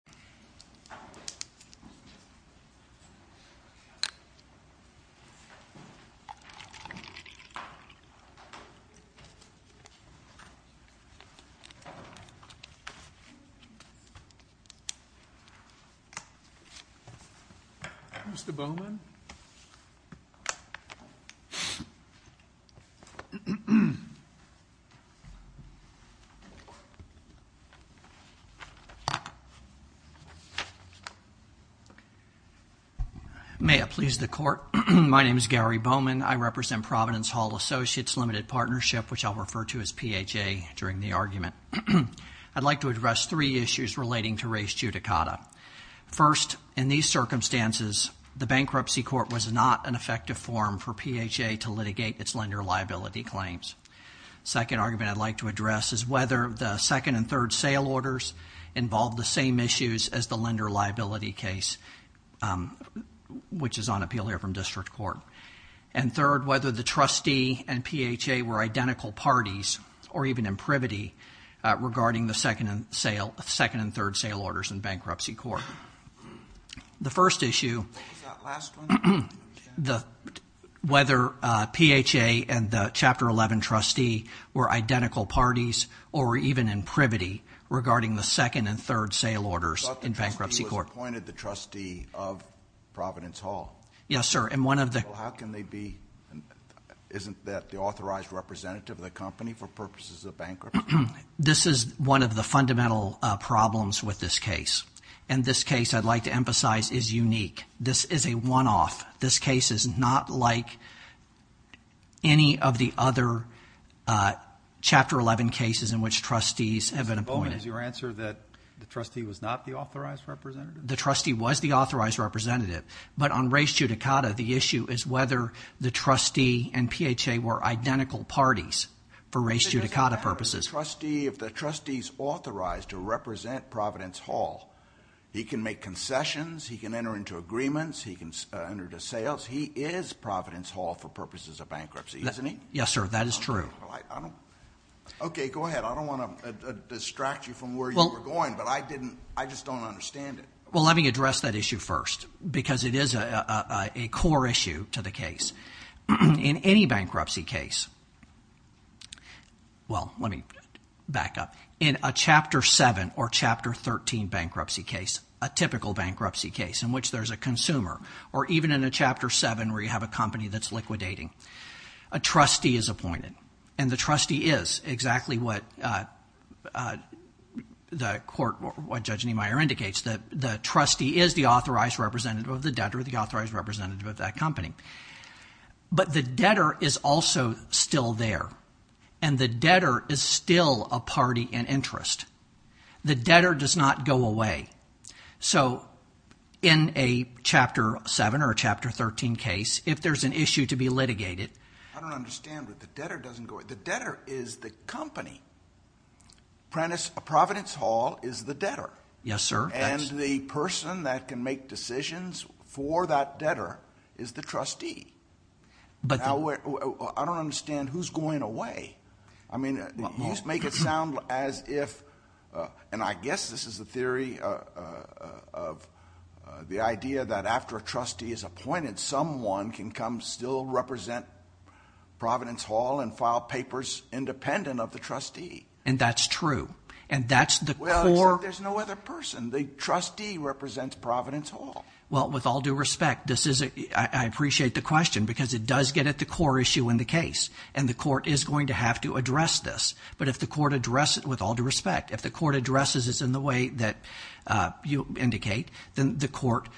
Walter Huston Associates v. Wells Fargo Bank, N.A. May it please the Court, my name is Gary Bowman. I represent Providence Hall Associates Limited Partnership, which I'll refer to as PHA during the argument. I'd like to address three issues relating to race judicata. First, in these circumstances, the bankruptcy court was not an effective forum for PHA to litigate its lender liability claims. Second argument I'd like to address is whether the second and third sale orders involved the same issues as the lender liability case, which is on appeal here from district court. And third, whether the trustee and PHA were identical parties, or even in privity, regarding the second and third sale orders in bankruptcy court. The first issue, whether PHA and the Chapter 11 trustee were identical parties, or even in privity, regarding the second and third sale orders in bankruptcy court. You thought the trustee was appointed the trustee of Providence Hall? Yes, sir. And one of the... Well, how can they be? Isn't that the authorized representative of the company for purposes of bankruptcy? This is one of the fundamental problems with this case. And this case, I'd like to emphasize, is unique. This is a one-off. This case is not like any of the other Chapter 11 cases in which trustees have been appointed. So, your answer is that the trustee was not the authorized representative? The trustee was the authorized representative. But on race judicata, the issue is whether the trustee and PHA were identical parties for race judicata purposes. If the trustee's authorized to represent Providence Hall, he can make concessions, he can enter into agreements, he can enter into sales, he is Providence Hall for purposes of bankruptcy, isn't he? Yes, sir. That is true. Okay, go ahead. I don't want to distract you from where you were going, but I just don't understand it. Well, let me address that issue first, because it is a core issue to the case. In any bankruptcy case, well, let me back up. In a Chapter 7 or Chapter 13 bankruptcy case, a typical bankruptcy case in which there's a consumer, or even in a Chapter 7 where you have a company that's liquidating, a trustee is appointed. And the trustee is exactly what Judge Niemeyer indicates, that the trustee is the authorized representative of the debtor, the authorized representative of that company. But the debtor is also still there, and the debtor is still a party in interest. The debtor does not go away. So in a Chapter 7 or a Chapter 13 case, if there's an issue to be litigated... I don't understand it. The debtor doesn't go away. The debtor is the company. Providence Hall is the debtor. Yes, sir. And the person that can make decisions for that debtor is the trustee. I don't understand who's going away. I mean, you make it sound as if, and I guess this is the theory of the idea that after a trustee is appointed, someone can come still represent Providence Hall and file papers independent of the trustee. And that's true. And that's the core... Well, except there's no other person. The trustee represents Providence Hall. Well, with all due respect, I appreciate the question, because it does get at the core issue in the case. And the court is going to have to address this. But if the court addresses it, with all due respect, if the court addresses it in the way that you indicate, then the court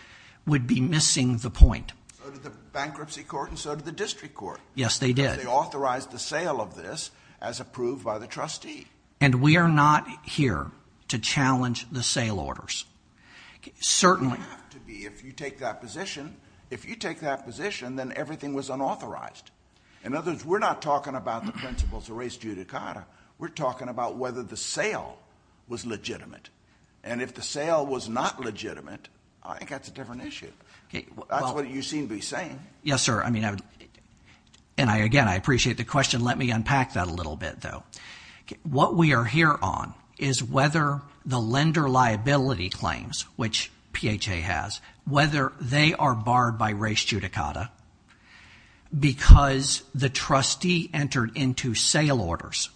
would be missing the point. So did the bankruptcy court, and so did the district court. Yes, they did. They authorized the sale of this as approved by the trustee. And we are not here to challenge the sale orders. You don't have to be if you take that position. If you take that position, then everything was unauthorized. In other words, we're not talking about the principles of res judicata. We're talking about whether the sale was legitimate. And if the sale was not legitimate, I think that's a different issue. That's what you seem to be saying. Yes, sir. I mean, and again, I appreciate the question. Let me unpack that a little bit, though. What we are here on is whether the lender liability claims, which PHA has, whether they are barred by res judicata because the trustee entered into sale orders.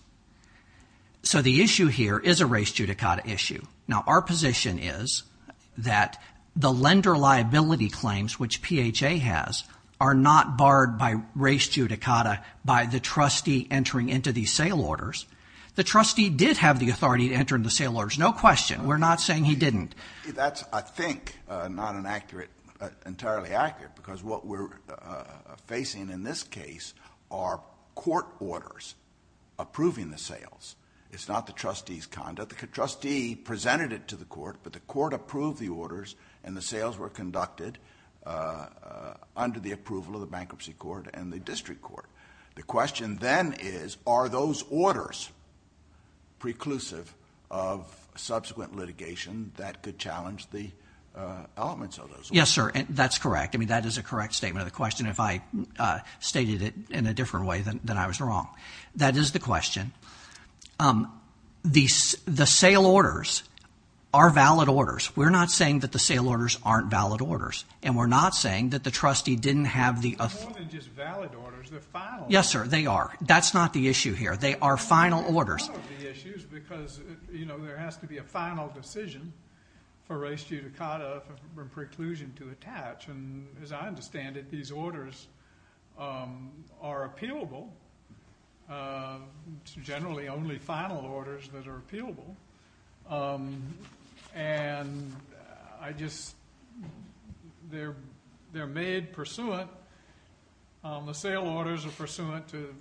So the issue here is a res judicata issue. Now our position is that the lender liability claims, which PHA has, are not barred by res judicata sale orders. The trustee did have the authority to enter into sale orders. No question. We're not saying he didn't. That's, I think, not entirely accurate because what we're facing in this case are court orders approving the sales. It's not the trustee's conduct. The trustee presented it to the court, but the court approved the orders and the sales were conducted under the approval of the bankruptcy court and the district court. The question then is, are those orders preclusive of subsequent litigation that could challenge the elements of those orders? Yes, sir. That's correct. I mean, that is a correct statement of the question if I stated it in a different way than I was wrong. That is the question. The sale orders are valid orders. We're not saying that the sale orders aren't valid orders, and we're not saying that the trustee didn't have the authority. They're more than just valid orders. They're final orders. Yes, sir. They are. That's not the issue here. They are final orders. Part of the issue is because, you know, there has to be a final decision for res judicata from preclusion to attach, and as I understand it, these orders are appealable, generally only final orders that are appealable. And I just, they're made pursuant, the sale orders are pursuant to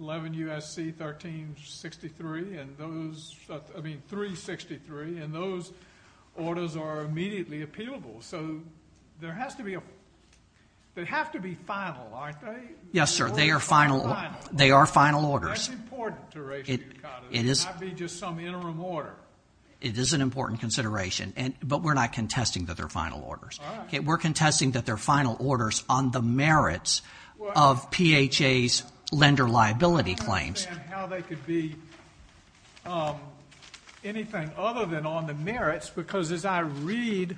11 U.S.C. 1363, and those, I mean 363, and those orders are immediately appealable. So there has to be a, they have to be final, aren't they? Yes, sir. They are final. They are final orders. That's important to res judicata. It is. It can't be just some interim order. It is an important consideration, but we're not contesting that they're final orders. All right. We're contesting that they're final orders on the merits of PHA's lender liability claims. I understand how they could be anything other than on the merits, because as I read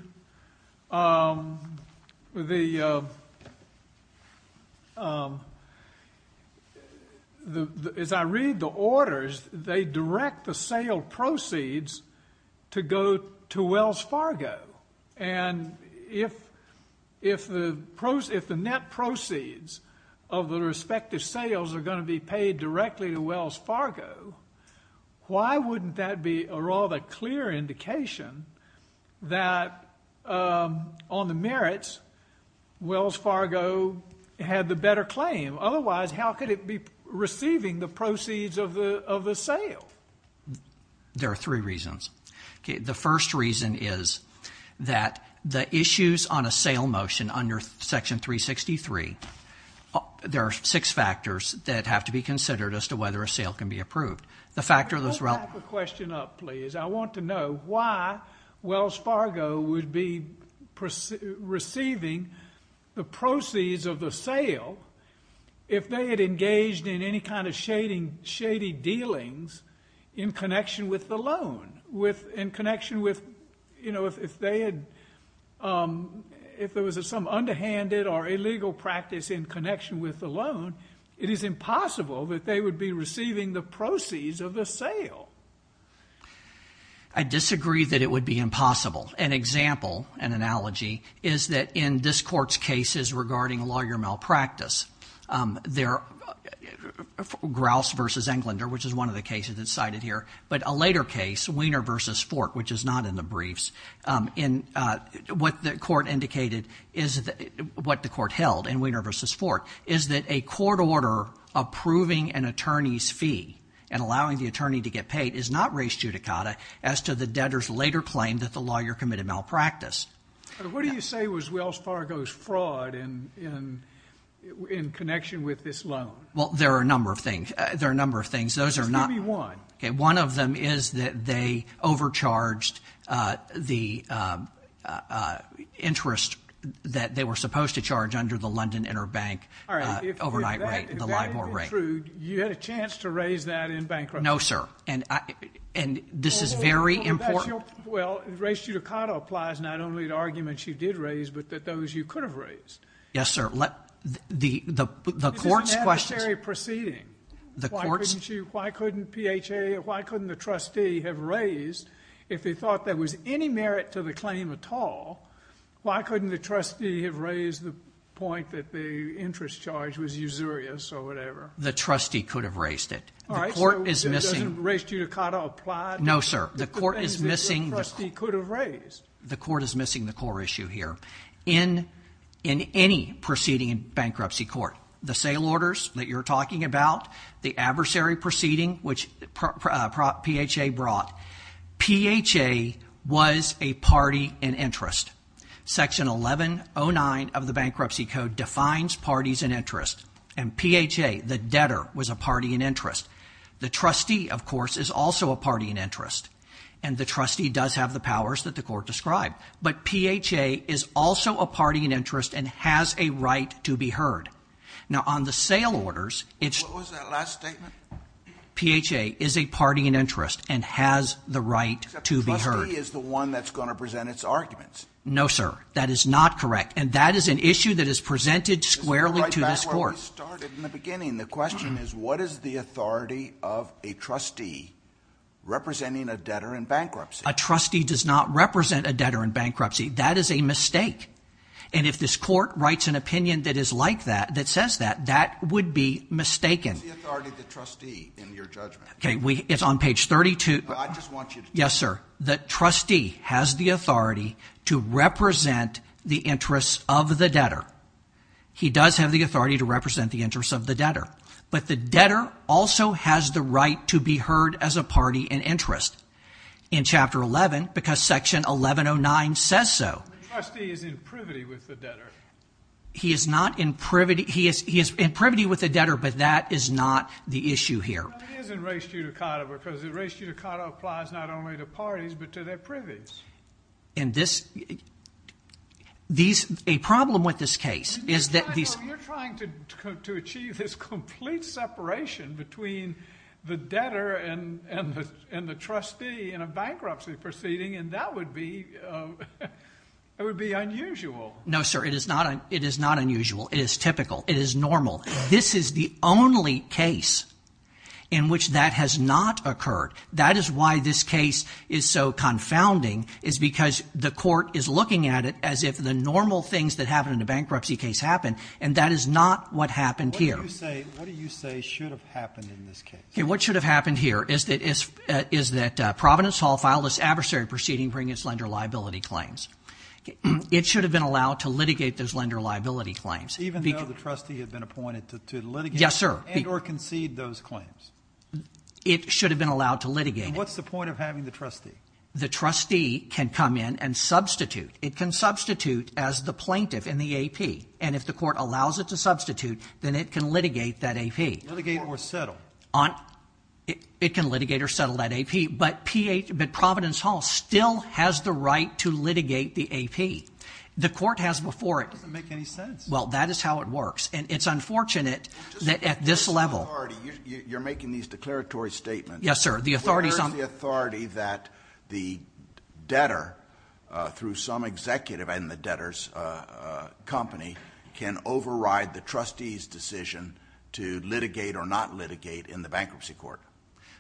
the, as I read the orders, they direct the sale proceeds to go to Wells Fargo, and if the net proceeds of the respective sales are going to be paid directly to Wells Fargo, why wouldn't that be a rather clear indication that on the merits, Wells Fargo had the better claim? Otherwise, how could it be receiving the proceeds of the sale? There are three reasons. Okay. The first reason is that the issues on a sale motion under Section 363, there are six factors that have to be considered as to whether a sale can be approved. The factor that's relevant. Could you back the question up, please? I want to know why Wells Fargo would be receiving the proceeds of the sale if they had engaged in any kind of shady dealings in connection with the loan, with, in connection with, you know, if they had, if there was some underhanded or illegal practice in connection with the I disagree that it would be impossible. An example, an analogy, is that in this Court's cases regarding lawyer malpractice, there, Grouse v. Englander, which is one of the cases that's cited here, but a later case, Wiener v. Fort, which is not in the briefs, in what the Court indicated is, what the Court held in Wiener v. Fort is that a court order approving an attorney's fee and allowing the attorney to get paid is not res judicata as to the debtor's later claim that the lawyer committed malpractice. What do you say was Wells Fargo's fraud in, in, in connection with this loan? Well, there are a number of things. There are a number of things. Those are not. Give me one. Okay. One of them is that they overcharged the interest that they were supposed to charge under the London Interbank overnight rate, the LIBOR rate. If that, if that is true, you had a chance to raise that in bankruptcy? No, sir. And I, and this is very important. Well, that's your, well, res judicata applies not only to arguments you did raise, but that those you could have raised. Yes, sir. Let, the, the, the Court's questions. This is an adversary proceeding. The Court's. This is a core issue. Why couldn't PHA, why couldn't the trustee have raised if they thought there was any merit to the claim at all? Why couldn't the trustee have raised the point that the interest charge was usurious or whatever? The trustee could have raised it. All right. The Court is missing. Doesn't res judicata apply? No, sir. The Court is missing. The trustee could have raised. The Court is missing the core issue here. In, in any proceeding in bankruptcy court, the sale orders that you're talking about, the adversary proceeding, which PHA brought, PHA was a party in interest. Section 1109 of the Bankruptcy Code defines parties in interest. And PHA, the debtor, was a party in interest. The trustee, of course, is also a party in interest. And the trustee does have the powers that the Court described. But PHA is also a party in interest and has a right to be heard. Now, on the sale orders, it's. What was that last statement? PHA is a party in interest and has the right to be heard. Except the trustee is the one that's going to present its arguments. No, sir. That is not correct. And that is an issue that is presented squarely to this Court. Let's go right back to where we started in the beginning. The question is, what is the authority of a trustee representing a debtor in bankruptcy? A trustee does not represent a debtor in bankruptcy. That is a mistake. And if this Court writes an opinion that is like that, that says that, that would be mistaken. What is the authority of the trustee in your judgment? Okay, it's on page 32. No, I just want you to. Yes, sir. The trustee has the authority to represent the interests of the debtor. He does have the authority to represent the interests of the debtor. But the debtor also has the right to be heard as a party in interest. In Chapter 11, because Section 1109 says so. The trustee is in privity with the debtor. He is not in privity. He is in privity with the debtor, but that is not the issue here. But he is in res judicata because the res judicata applies not only to parties, but to their privies. And this, these, a problem with this case is that these. You're trying to achieve this complete separation between the debtor and the trustee in a bankruptcy proceeding and that would be, that would be unusual. No, sir. It is not unusual. It is typical. It is normal. This is the only case in which that has not occurred. That is why this case is so confounding, is because the court is looking at it as if the normal things that happen in a bankruptcy case happen, and that is not what happened here. What do you say should have happened in this case? What should have happened here is that Providence Hall filed this adversary proceeding bringing its lender liability claims. It should have been allowed to litigate those lender liability claims. Even though the trustee had been appointed to litigate and or concede those claims? It should have been allowed to litigate. What's the point of having the trustee? The trustee can come in and substitute. It can substitute as the plaintiff in the AP. And if the court allows it to substitute, then it can litigate that AP. Litigate or settle? It can litigate or settle that AP, but Providence Hall still has the right to litigate the AP. The court has before it. That doesn't make any sense. Well, that is how it works, and it's unfortunate that at this level. You're making these declaratory statements. Yes, sir. Where is the authority that the debtor, through some executive in the debtor's company, can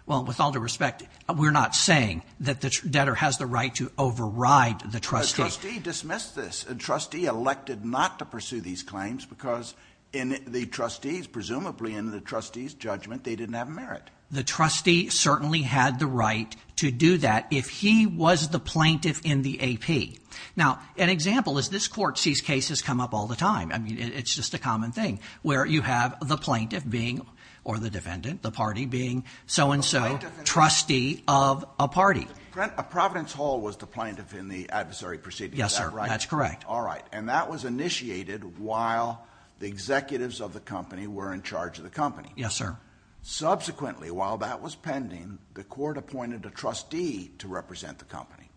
Well, with all due respect, we're not saying that the debtor has the right to override the trustee. The trustee dismissed this. The trustee elected not to pursue these claims because in the trustee's, presumably in the trustee's judgment, they didn't have merit. The trustee certainly had the right to do that if he was the plaintiff in the AP. Now, an example is this court sees cases come up all the time. I mean, it's just a common thing where you have the plaintiff being, or the defendant, the party, being so-and-so trustee of a party. A Providence Hall was the plaintiff in the adversary proceeding. Yes, sir. That's correct. All right. And that was initiated while the executives of the company were in charge of the company. Yes, sir. Subsequently, while that was pending, the court appointed a trustee to represent the company.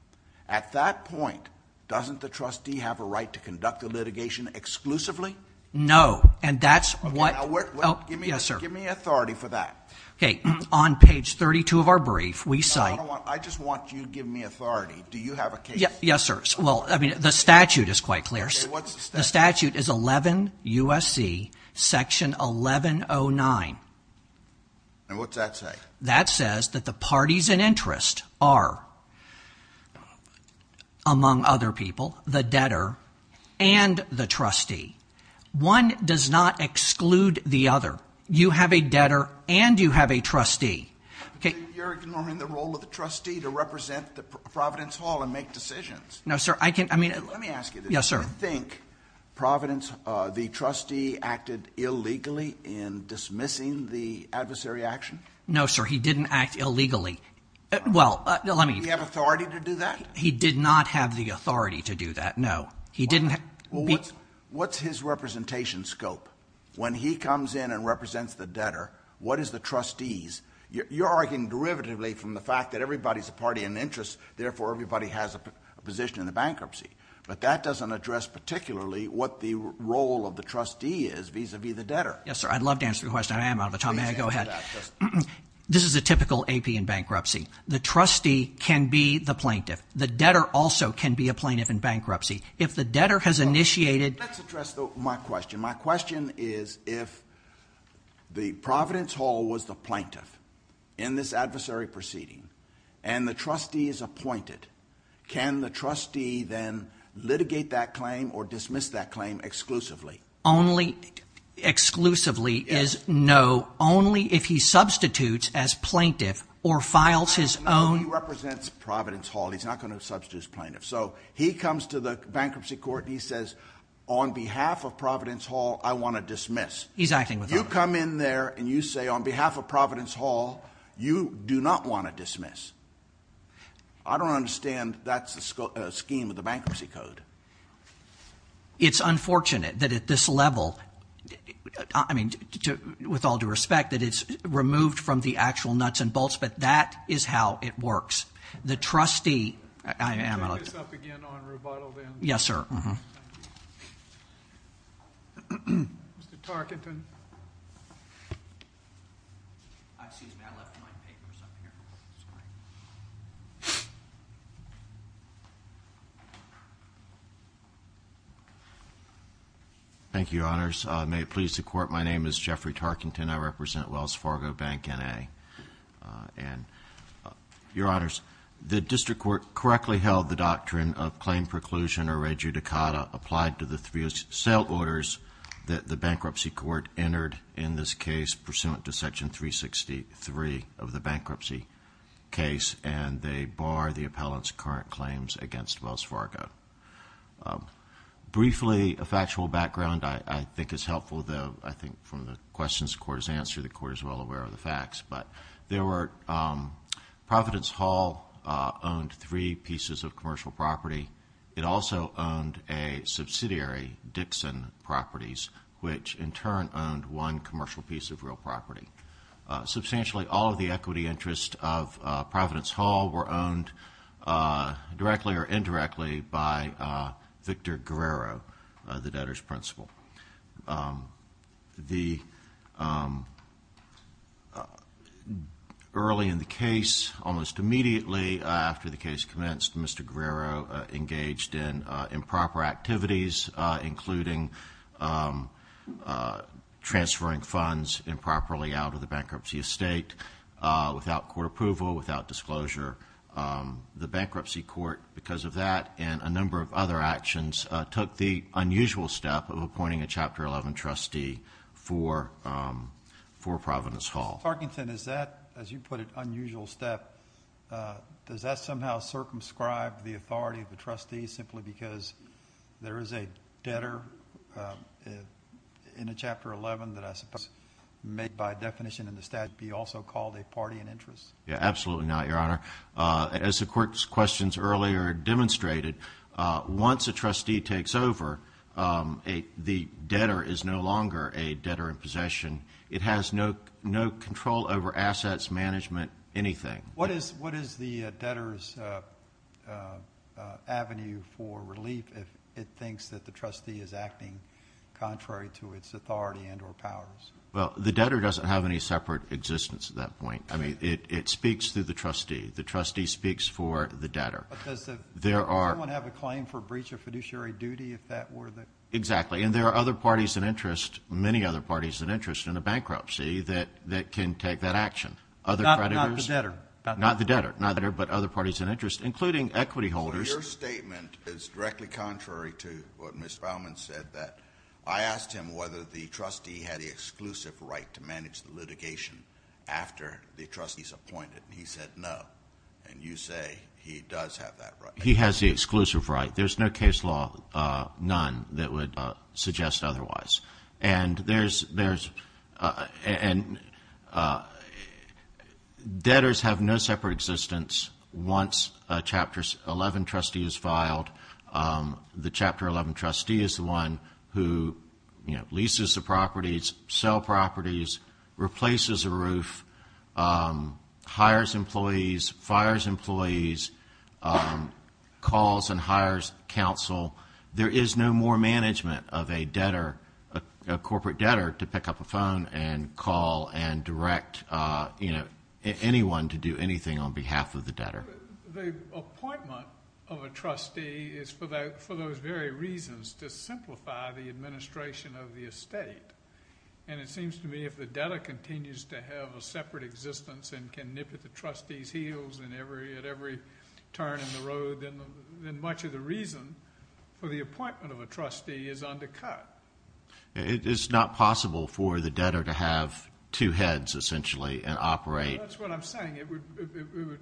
At that point, doesn't the trustee have a right to conduct the litigation exclusively? No. And that's what— Okay. Now, where— Oh, yes, sir. Give me authority for that. Okay. On page 32 of our brief, we cite— No, I don't want—I just want you to give me authority. Do you have a case? Yes, sir. Well, I mean, the statute is quite clear. Okay. What's the statute? The statute is 11 U.S.C. section 1109. And what's that say? That says that the parties in interest are, among other people, the debtor and the trustee. One does not exclude the other. You have a debtor and you have a trustee. Okay. You're ignoring the role of the trustee to represent Providence Hall and make decisions. No, sir. I can—I mean— Let me ask you this. Yes, sir. Do you think Providence—the trustee acted illegally in dismissing the adversary action? No, sir. He didn't act illegally. Well, let me— Do you have authority to do that? He did not have the authority to do that. No. He didn't— Well, what's his representation scope? When he comes in and represents the debtor, what is the trustee's? You're arguing derivatively from the fact that everybody is a party in interest. Therefore, everybody has a position in the bankruptcy. But that doesn't address particularly what the role of the trustee is vis-à-vis the debtor. Yes, sir. I'd love to answer your question. I am out of time. May I go ahead? This is a typical AP in bankruptcy. The trustee can be the plaintiff. The debtor also can be a plaintiff in bankruptcy. If the debtor has initiated— Let's address my question. My question is if the Providence Hall was the plaintiff in this adversary proceeding and the trustee is appointed, can the trustee then litigate that claim or dismiss that claim exclusively? Only—exclusively is no, only if he substitutes as plaintiff or files his own— No, he represents Providence Hall. He's not going to substitute as plaintiff. So he comes to the bankruptcy court, and he says on behalf of Providence Hall, I want to dismiss. He's acting with— You come in there, and you say on behalf of Providence Hall, you do not want to dismiss. I don't understand that's the scheme of the bankruptcy code. It's unfortunate that at this level, I mean with all due respect, that it's removed from the actual nuts and bolts, but that is how it works. The trustee— Can you take this up again on rebuttal then? Yes, sir. Thank you. Mr. Tarkenton. Excuse me. I left my papers up here. Thank you, Your Honors. May it please the Court, my name is Jeffrey Tarkenton. I represent Wells Fargo Bank, N.A. Your Honors, the district court correctly held the doctrine of claim preclusion or rejudicata applied to the three sale orders that the bankruptcy court entered in this case, pursuant to Section 363 of the bankruptcy case, and they bar the appellant's current claims against Wells Fargo. Briefly, a factual background I think is helpful. I think from the questions the Court has answered, the Court is well aware of the facts. Providence Hall owned three pieces of commercial property. It also owned a subsidiary, Dixon Properties, which in turn owned one commercial piece of real property. Substantially, all of the equity interests of Providence Hall were owned directly or indirectly by Victor Guerrero, the debtor's principal. Early in the case, almost immediately after the case commenced, Mr. Guerrero engaged in improper activities, including transferring funds improperly out of the bankruptcy estate without court approval, without disclosure. The bankruptcy court, because of that and a number of other actions, took the unusual step of appointing a Chapter 11 trustee for Providence Hall. Mr. Parkinson, is that, as you put it, unusual step? Does that somehow circumscribe the authority of the trustee simply because there is a debtor in a Chapter 11 that I suppose, made by definition in the statute, be also called a party in interest? Absolutely not, Your Honor. As the Court's questions earlier demonstrated, once a trustee takes over, the debtor is no longer a debtor in possession. It has no control over assets, management, anything. What is the debtor's avenue for relief if it thinks that the trustee is acting contrary to its authority and or powers? Well, the debtor doesn't have any separate existence at that point. I mean, it speaks to the trustee. The trustee speaks for the debtor. But does everyone have a claim for breach of fiduciary duty, if that were the case? Exactly. And there are other parties in interest, many other parties in interest, in a bankruptcy that can take that action. Not the debtor. Not the debtor, but other parties in interest, including equity holders. Well, your statement is directly contrary to what Ms. Baumann said, that I asked him whether the trustee had the exclusive right to manage the litigation after the trustee is appointed. He said no. And you say he does have that right. He has the exclusive right. There's no case law, none, that would suggest otherwise. And debtors have no separate existence once a Chapter 11 trustee is filed. The Chapter 11 trustee is the one who leases the properties, sell properties, replaces a roof, hires employees, fires employees, calls and hires counsel. There is no more management of a debtor, a corporate debtor, to pick up a phone and call and direct anyone to do anything on behalf of the debtor. The appointment of a trustee is for those very reasons, to simplify the administration of the estate. And it seems to me if the debtor continues to have a separate existence and can nip at the trustee's heels at every turn in the road, then much of the reason for the appointment of a trustee is undercut. It is not possible for the debtor to have two heads, essentially, and operate. That's what I'm saying. It would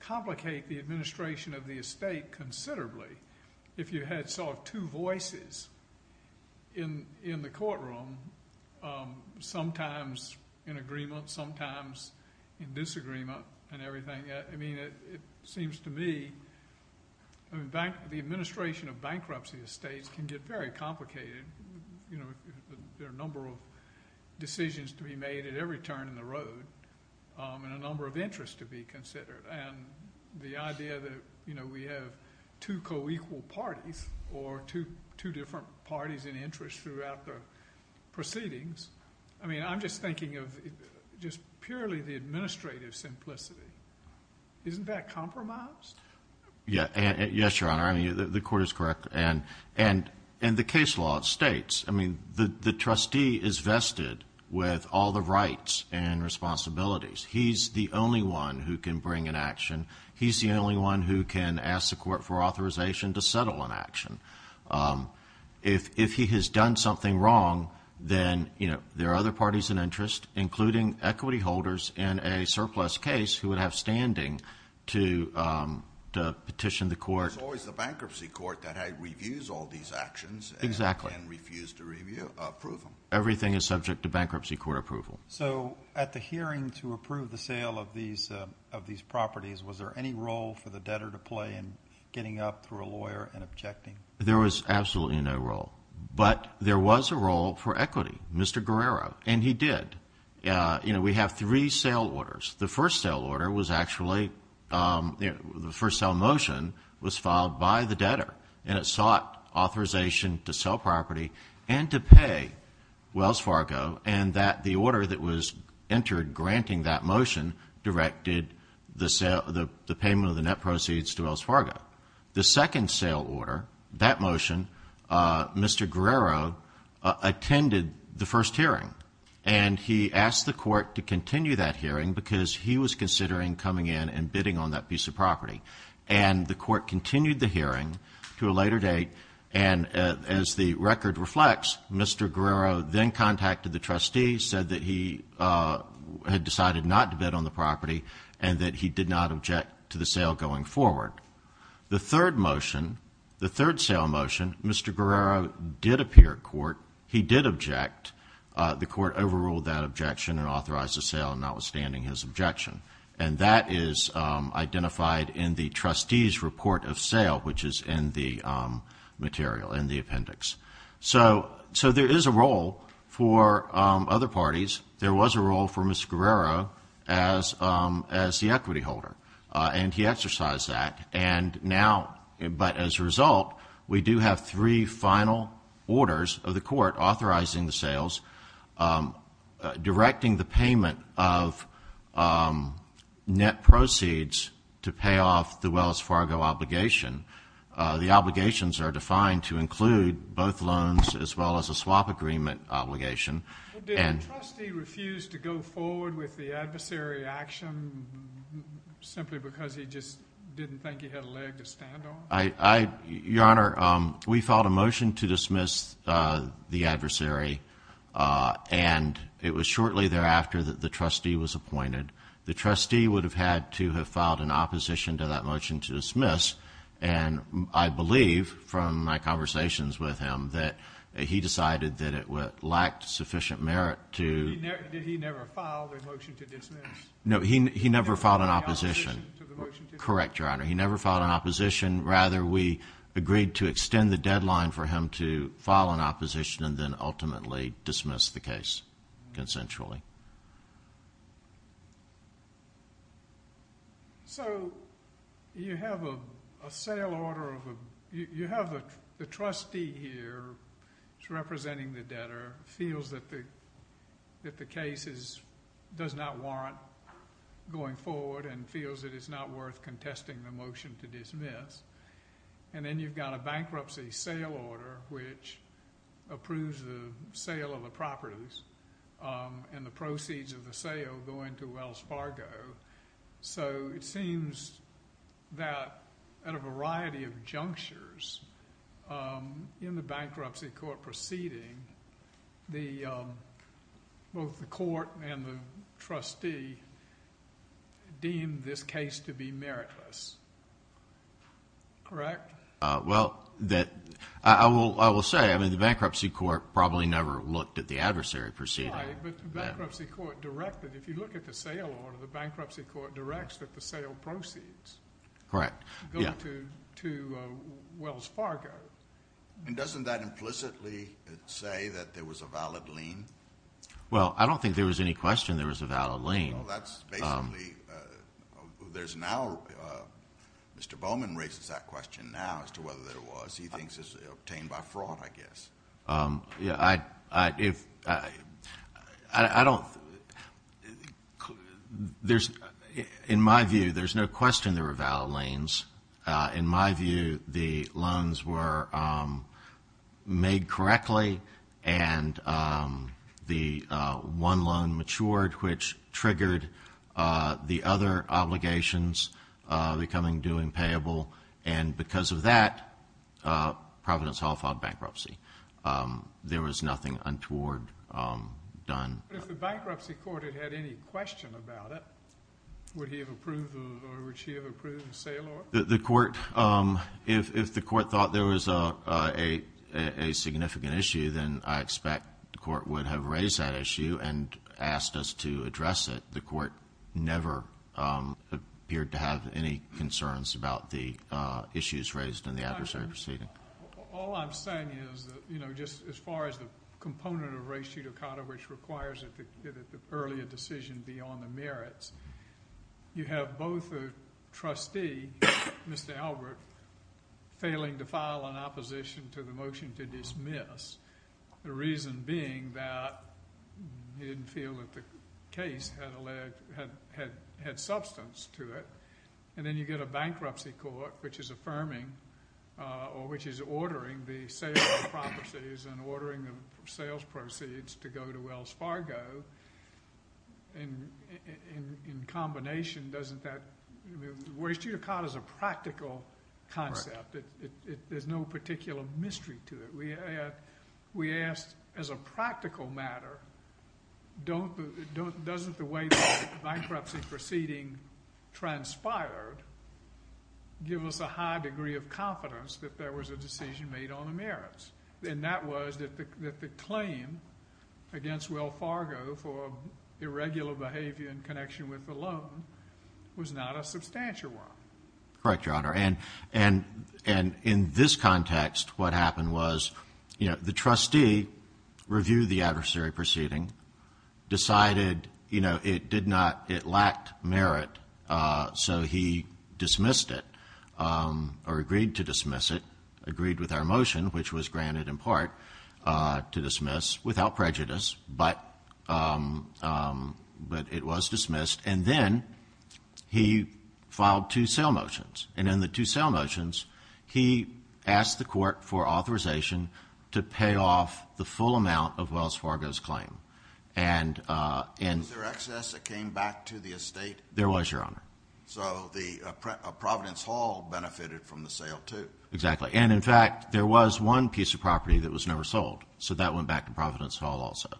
complicate the administration of the estate considerably if you had sort of two voices in the courtroom, sometimes in agreement, sometimes in disagreement and everything. It seems to me the administration of bankruptcy estates can get very complicated. There are a number of decisions to be made at every turn in the road and a number of interests to be considered. And the idea that we have two co-equal parties or two different parties in interest throughout the proceedings, I mean, I'm just thinking of just purely the administrative simplicity. Isn't that compromised? Yes, Your Honor. The court is correct. And the case law states, I mean, the trustee is vested with all the rights and responsibilities. He's the only one who can bring an action. He's the only one who can ask the court for authorization to settle an action. If he has done something wrong, then there are other parties in interest, including equity holders in a surplus case who would have standing to petition the court. It's always the bankruptcy court that reviews all these actions and can refuse to approve them. Everything is subject to bankruptcy court approval. So at the hearing to approve the sale of these properties, was there any role for the debtor to play in getting up to a lawyer and objecting? There was absolutely no role. But there was a role for equity, Mr. Guerrero, and he did. You know, we have three sale orders. The first sale order was actually the first sale motion was filed by the debtor, and it sought authorization to sell property and to pay Wells Fargo, and that the order that was entered granting that motion directed the payment of the net proceeds to Wells Fargo. The second sale order, that motion, Mr. Guerrero attended the first hearing, and he asked the court to continue that hearing because he was considering coming in and bidding on that piece of property. And the court continued the hearing to a later date, and as the record reflects, Mr. Guerrero then contacted the trustee, said that he had decided not to bid on the property, and that he did not object to the sale going forward. The third motion, the third sale motion, Mr. Guerrero did appear at court. He did object. The court overruled that objection and authorized the sale, notwithstanding his objection. And that is identified in the trustee's report of sale, which is in the material, in the appendix. So there is a role for other parties. There was a role for Mr. Guerrero as the equity holder, and he exercised that. And now, but as a result, we do have three final orders of the court authorizing the sales, directing the payment of net proceeds to pay off the Wells Fargo obligation. The obligations are defined to include both loans as well as a swap agreement obligation. Did the trustee refuse to go forward with the adversary action simply because he just didn't think he had a leg to stand on? Your Honor, we filed a motion to dismiss the adversary, and it was shortly thereafter that the trustee was appointed. The trustee would have had to have filed an opposition to that motion to dismiss, and I believe from my conversations with him that he decided that it lacked sufficient merit to. Did he never file the motion to dismiss? No, he never filed an opposition. Correct, Your Honor. He never filed an opposition. Rather, we agreed to extend the deadline for him to file an opposition and then ultimately dismiss the case consensually. So you have a sale order of a—you have the trustee here representing the debtor, feels that the case does not warrant going forward and feels that it's not worth contesting the motion to dismiss, and then you've got a bankruptcy sale order which approves the sale of the properties and the proceeds of the sale going to Wells Fargo. So it seems that at a variety of junctures in the bankruptcy court proceeding, both the court and the trustee deemed this case to be meritless, correct? Well, I will say, I mean, the bankruptcy court probably never looked at the adversary proceeding. Right, but the bankruptcy court directed, if you look at the sale order, the bankruptcy court directs that the sale proceeds go to Wells Fargo. And doesn't that implicitly say that there was a valid lien? Well, I don't think there was any question there was a valid lien. Well, that's basically—there's now—Mr. Bowman raises that question now as to whether there was. He thinks it's obtained by fraud, I guess. Yeah, I don't—in my view, there's no question there were valid liens. In my view, the loans were made correctly, and the one loan matured, which triggered the other obligations becoming due and payable. And because of that, Providence Hall filed bankruptcy. There was nothing untoward done. But if the bankruptcy court had had any question about it, would he have approved or would she have approved the sale order? The court—if the court thought there was a significant issue, then I expect the court would have raised that issue and asked us to address it. The court never appeared to have any concerns about the issues raised in the adversary proceeding. All I'm saying is that, you know, just as far as the component of res judicata, which requires that the earlier decision be on the merits, you have both a trustee, Mr. Albert, failing to file an opposition to the motion to dismiss, the reason being that he didn't feel that the case had substance to it. And then you get a bankruptcy court which is affirming or which is ordering the sale of the properties and ordering the sales proceeds to go to Wells Fargo. And in combination, doesn't that—res judicata is a practical concept. There's no particular mystery to it. We asked, as a practical matter, doesn't the way the bankruptcy proceeding transpired give us a high degree of confidence that there was a decision made on the merits? And that was that the claim against Wells Fargo for irregular behavior in connection with the loan was not a substantial one. Correct, Your Honor. And in this context, what happened was, you know, the trustee reviewed the adversary proceeding, decided, you know, it did not—it lacked merit, so he dismissed it or agreed to dismiss it, agreed with our motion, which was granted in part to dismiss without prejudice, but it was dismissed. And then he filed two sale motions. And in the two sale motions, he asked the court for authorization to pay off the full amount of Wells Fargo's claim. And— Was there excess that came back to the estate? There was, Your Honor. So the Providence Hall benefited from the sale, too. Exactly. And, in fact, there was one piece of property that was never sold, so that went back to Providence Hall also.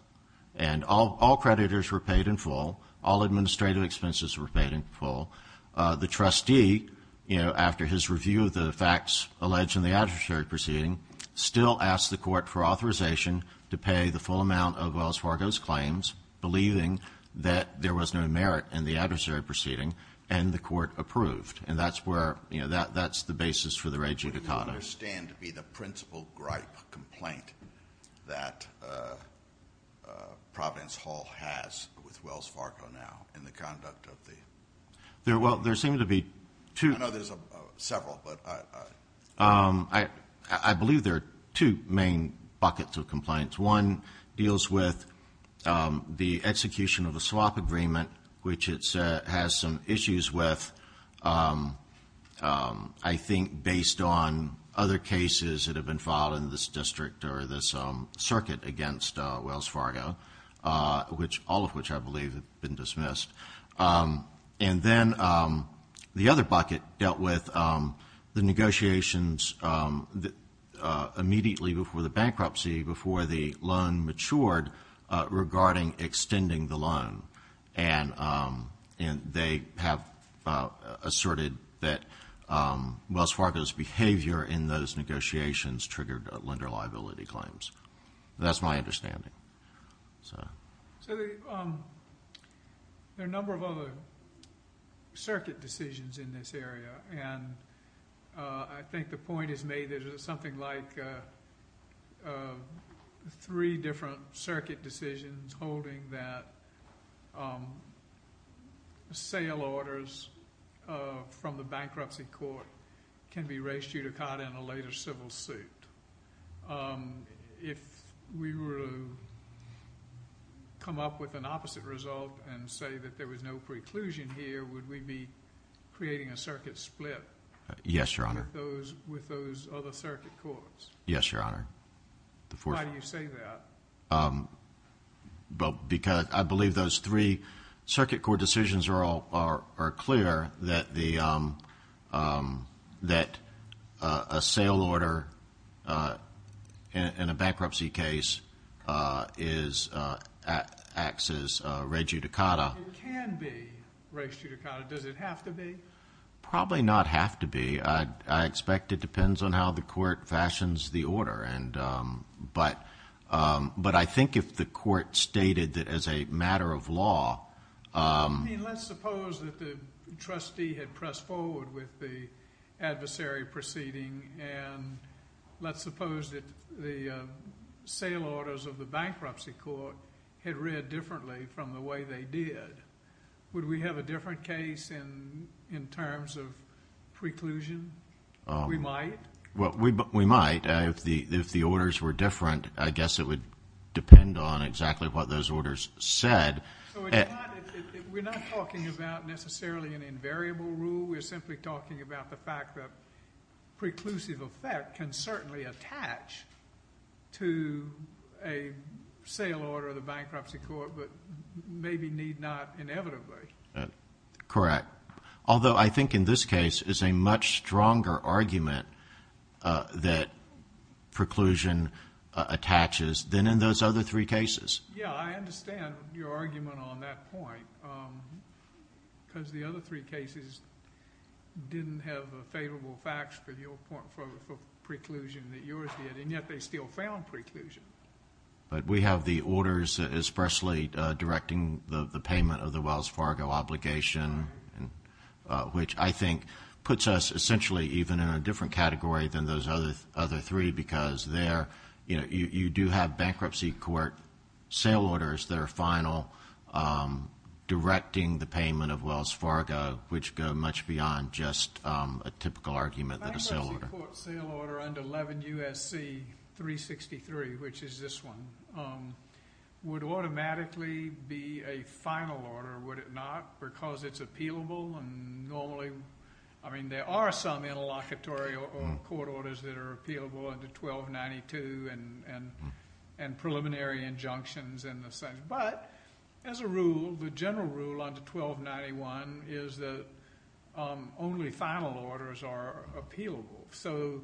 And all creditors were paid in full. All administrative expenses were paid in full. The trustee, you know, after his review of the facts alleged in the adversary proceeding, still asked the court for authorization to pay the full amount of Wells Fargo's claims, believing that there was no merit in the adversary proceeding, and the court approved. And that's where—you know, that's the basis for the rejudicata. What I understand to be the principal gripe complaint that Providence Hall has with Wells Fargo now in the conduct of the— Well, there seem to be two— I know there's several, but— I believe there are two main buckets of compliance. One deals with the execution of a swap agreement, which it has some issues with, I think, based on other cases that have been filed in this district or this circuit against Wells Fargo, all of which I believe have been dismissed. And then the other bucket dealt with the negotiations immediately before the bankruptcy, before the loan matured, regarding extending the loan. And they have asserted that Wells Fargo's behavior in those negotiations triggered lender liability claims. That's my understanding. So there are a number of other circuit decisions in this area, and I think the point is made that there's something like three different circuit decisions holding that sale orders from the bankruptcy court can be rejudicata in a later civil suit. If we were to come up with an opposite result and say that there was no preclusion here, would we be creating a circuit split— Yes, Your Honor. —with those other circuit courts? Yes, Your Honor. Why do you say that? Because I believe those three circuit court decisions are clear that a sale order in a bankruptcy case acts as rejudicata. It can be rejudicata. Does it have to be? Probably not have to be. I expect it depends on how the court fashions the order. But I think if the court stated that as a matter of law— I mean, let's suppose that the trustee had pressed forward with the adversary proceeding, and let's suppose that the sale orders of the bankruptcy court had read differently from the way they did. Would we have a different case in terms of preclusion? We might? Well, we might. If the orders were different, I guess it would depend on exactly what those orders said. So we're not talking about necessarily an invariable rule. We're simply talking about the fact that preclusive effect can certainly attach to a sale order of the bankruptcy court, but maybe need not inevitably. Correct. Although I think in this case it's a much stronger argument that preclusion attaches than in those other three cases. Yeah, I understand your argument on that point, because the other three cases didn't have favorable facts for preclusion that yours did, and yet they still found preclusion. But we have the orders expressly directing the payment of the Wells Fargo obligation, which I think puts us essentially even in a different category than those other three, because you do have bankruptcy court sale orders that are final directing the payment of Wells Fargo, which go much beyond just a typical argument that a sale order— which is this one—would automatically be a final order, would it not? Because it's appealable, and normally— I mean, there are some interlocutory court orders that are appealable under 1292 and preliminary injunctions, but as a rule, the general rule under 1291 is that only final orders are appealable. So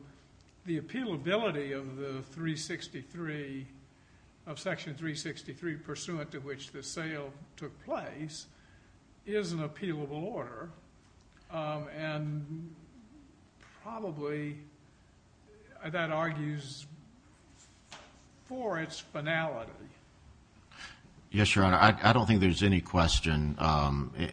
the appealability of Section 363, pursuant to which the sale took place, is an appealable order, and probably that argues for its finality. Yes, Your Honor. I don't think there's any question,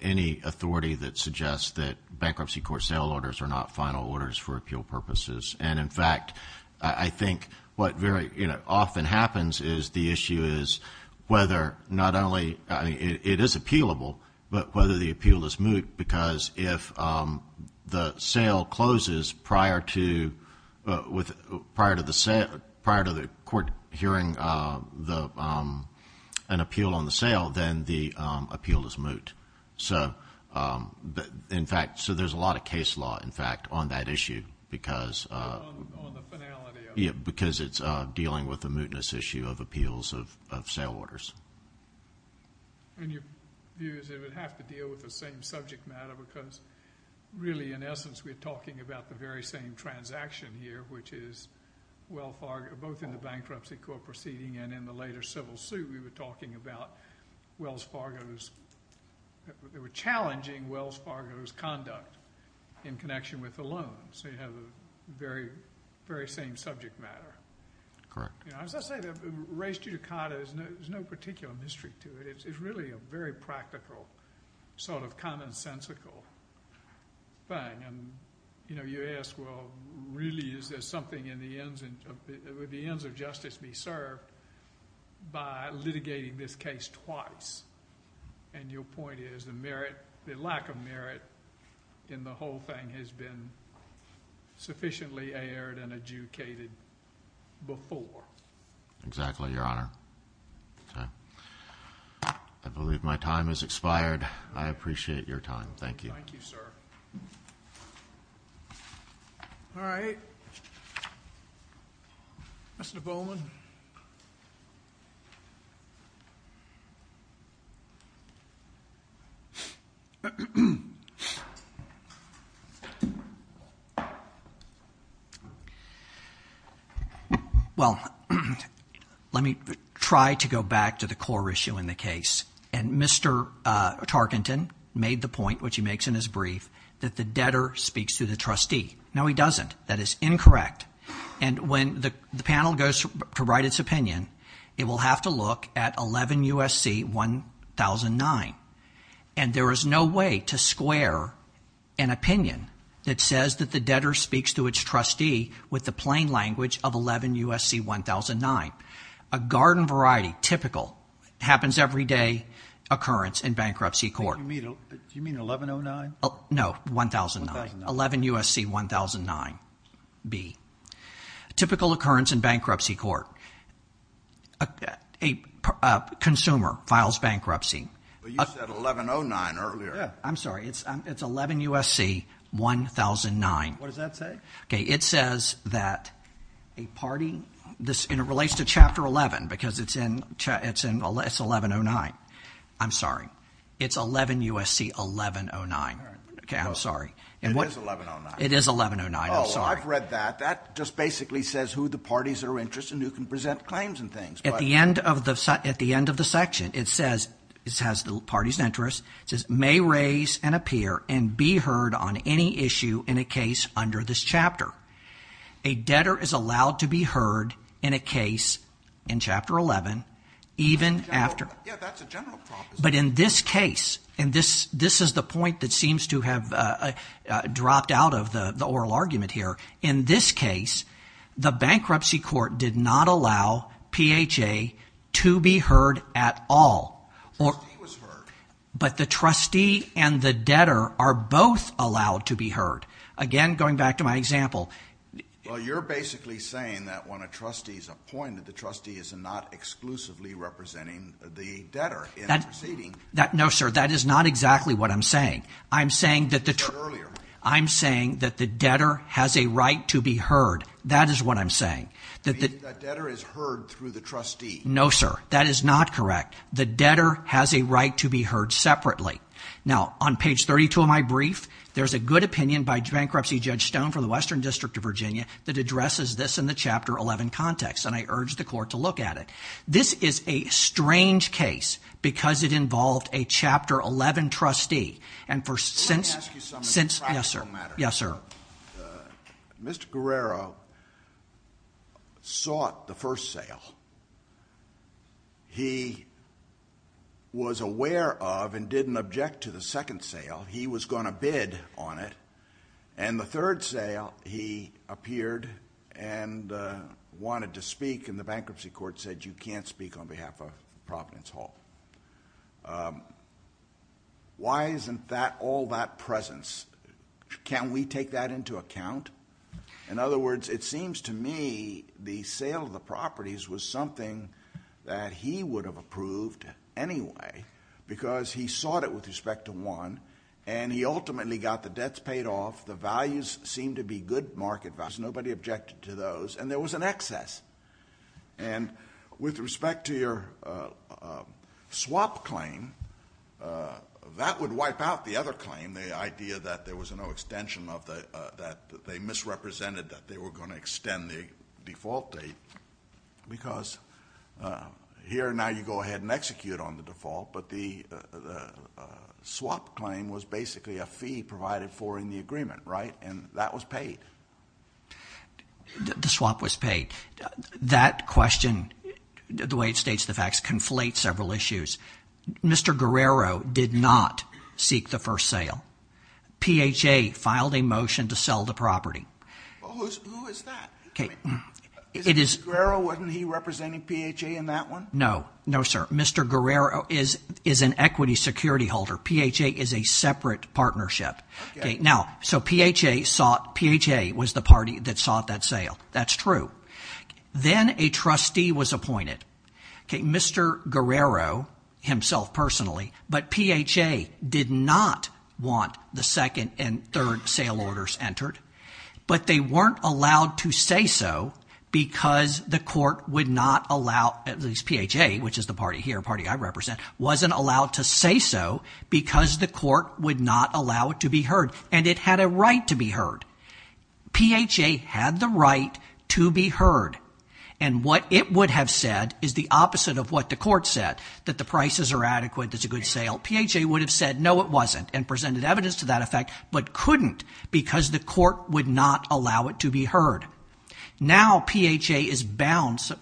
any authority that suggests that bankruptcy court sale orders are not final orders for appeal purposes. And, in fact, I think what very often happens is the issue is whether not only— I mean, it is appealable, but whether the appeal is moot, because if the sale closes prior to the court hearing an appeal on the sale, then the appeal is moot. So, in fact, there's a lot of case law, in fact, on that issue because— On the finality of it. Yes, because it's dealing with the mootness issue of appeals of sale orders. And your view is it would have to deal with the same subject matter because, really, in essence, we're talking about the very same transaction here, which is Wells Fargo— both in the bankruptcy court proceeding and in the later civil suit, we were talking about Wells Fargo's—they were challenging Wells Fargo's conduct in connection with the loan. So you have the very same subject matter. Correct. As I say, race judicata, there's no particular mystery to it. It's really a very practical sort of commonsensical thing. And, you know, you ask, well, really, is there something in the ends— would the ends of justice be served by litigating this case twice? And your point is the merit—the lack of merit in the whole thing has been sufficiently aired and adjudicated before. Exactly, Your Honor. Okay. I believe my time has expired. I appreciate your time. Thank you. Thank you, sir. All right. Mr. Bowman. Well, let me try to go back to the core issue in the case. And Mr. Tarkenton made the point, which he makes in his brief, that the debtor speaks to the trustee. No, he doesn't. That is incorrect. And when the panel goes to write its opinion, it will have to look at 11 U.S.C. 1009. And there is no way to square an opinion that says that the debtor speaks to its trustee with the plain language of 11 U.S.C. 1009. A garden variety, typical, happens every day occurrence in bankruptcy court. Do you mean 1109? No, 1009. 11 U.S.C. 1009 B. Typical occurrence in bankruptcy court. A consumer files bankruptcy. Well, you said 1109 earlier. I'm sorry. It's 11 U.S.C. 1009. What does that say? Okay. It says that a party – and it relates to Chapter 11 because it's in – it's 1109. I'm sorry. It's 11 U.S.C. 1109. Okay. I'm sorry. It is 1109. It is 1109. I'm sorry. Oh, I've read that. That just basically says who the parties are interested and who can present claims and things. At the end of the section, it says – it has the parties' interests. It says may raise and appear and be heard on any issue in a case under this chapter. A debtor is allowed to be heard in a case in Chapter 11 even after – Yeah, that's a general proposition. But in this case – and this is the point that seems to have dropped out of the oral argument here. In this case, the bankruptcy court did not allow PHA to be heard at all. The trustee was heard. But the trustee and the debtor are both allowed to be heard. Again, going back to my example. Well, you're basically saying that when a trustee is appointed, the trustee is not exclusively representing the debtor in the proceeding. No, sir. That is not exactly what I'm saying. I'm saying that the – You said earlier. I'm saying that the debtor has a right to be heard. That is what I'm saying. That debtor is heard through the trustee. No, sir. That is not correct. The debtor has a right to be heard separately. Now, on page 32 of my brief, there's a good opinion by Bankruptcy Judge Stone from the Western District of Virginia that addresses this in the Chapter 11 context. And I urge the court to look at it. This is a strange case because it involved a Chapter 11 trustee. And for – Let me ask you something practical matter. Yes, sir. Mr. Guerrero sought the first sale. He was aware of and didn't object to the second sale. He was going to bid on it. And the third sale, he appeared and wanted to speak. And the bankruptcy court said, you can't speak on behalf of Providence Hall. Why isn't that – all that presence? Can we take that into account? In other words, it seems to me the sale of the properties was something that he would have approved anyway because he sought it with respect to one. And he ultimately got the debts paid off. The values seemed to be good market values. Nobody objected to those. And there was an excess. And with respect to your swap claim, that would wipe out the other claim, the idea that there was no extension of the – that they misrepresented that they were going to extend the default date because here now you go ahead and execute on the default. But the swap claim was basically a fee provided for in the agreement, right? And that was paid. The swap was paid. That question, the way it states the facts, conflates several issues. Mr. Guerrero did not seek the first sale. PHA filed a motion to sell the property. Who is that? Is it Mr. Guerrero? Wasn't he representing PHA in that one? No. No, sir. Mr. Guerrero is an equity security holder. PHA is a separate partnership. Okay. Now, so PHA sought – PHA was the party that sought that sale. That's true. Then a trustee was appointed, Mr. Guerrero himself personally, but PHA did not want the second and third sale orders entered. But they weren't allowed to say so because the court would not allow – at least PHA, which is the party here, a party I represent, wasn't allowed to say so because the court would not allow it to be heard. And it had a right to be heard. PHA had the right to be heard, and what it would have said is the opposite of what the court said, that the prices are adequate, there's a good sale. PHA would have said no, it wasn't, and presented evidence to that effect but couldn't because the court would not allow it to be heard. Now PHA is bound –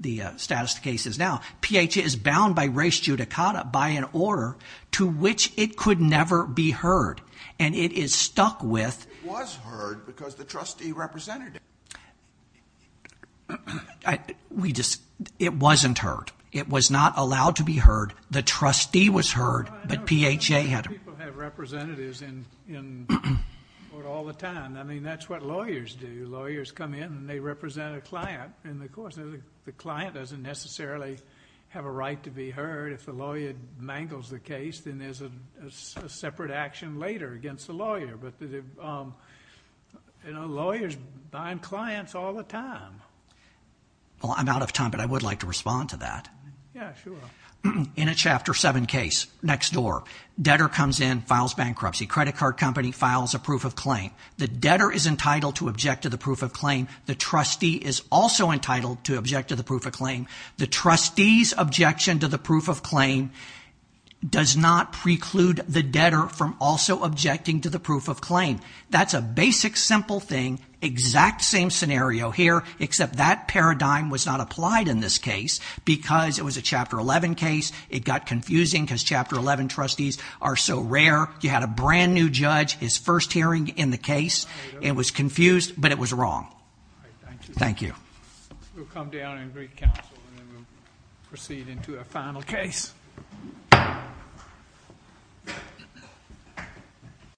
the status of the case is now – PHA is bound by res judicata, by an order to which it could never be heard, and it is stuck with – It was heard because the trustee represented it. We just – it wasn't heard. It was not allowed to be heard. The trustee was heard, but PHA had – People have representatives in court all the time. I mean that's what lawyers do. Lawyers come in and they represent a client in the court. The client doesn't necessarily have a right to be heard. If the lawyer mangles the case, then there's a separate action later against the lawyer. But lawyers bind clients all the time. Well, I'm out of time, but I would like to respond to that. Yeah, sure. In a Chapter 7 case, next door, debtor comes in, files bankruptcy. Credit card company files a proof of claim. The debtor is entitled to object to the proof of claim. The trustee is also entitled to object to the proof of claim. The trustee's objection to the proof of claim does not preclude the debtor from also objecting to the proof of claim. That's a basic, simple thing. Exact same scenario here, except that paradigm was not applied in this case because it was a Chapter 11 case. It got confusing because Chapter 11 trustees are so rare. You had a brand new judge, his first hearing in the case. It was confused, but it was wrong. Thank you. We'll come down and greet counsel, and then we'll proceed into our final case.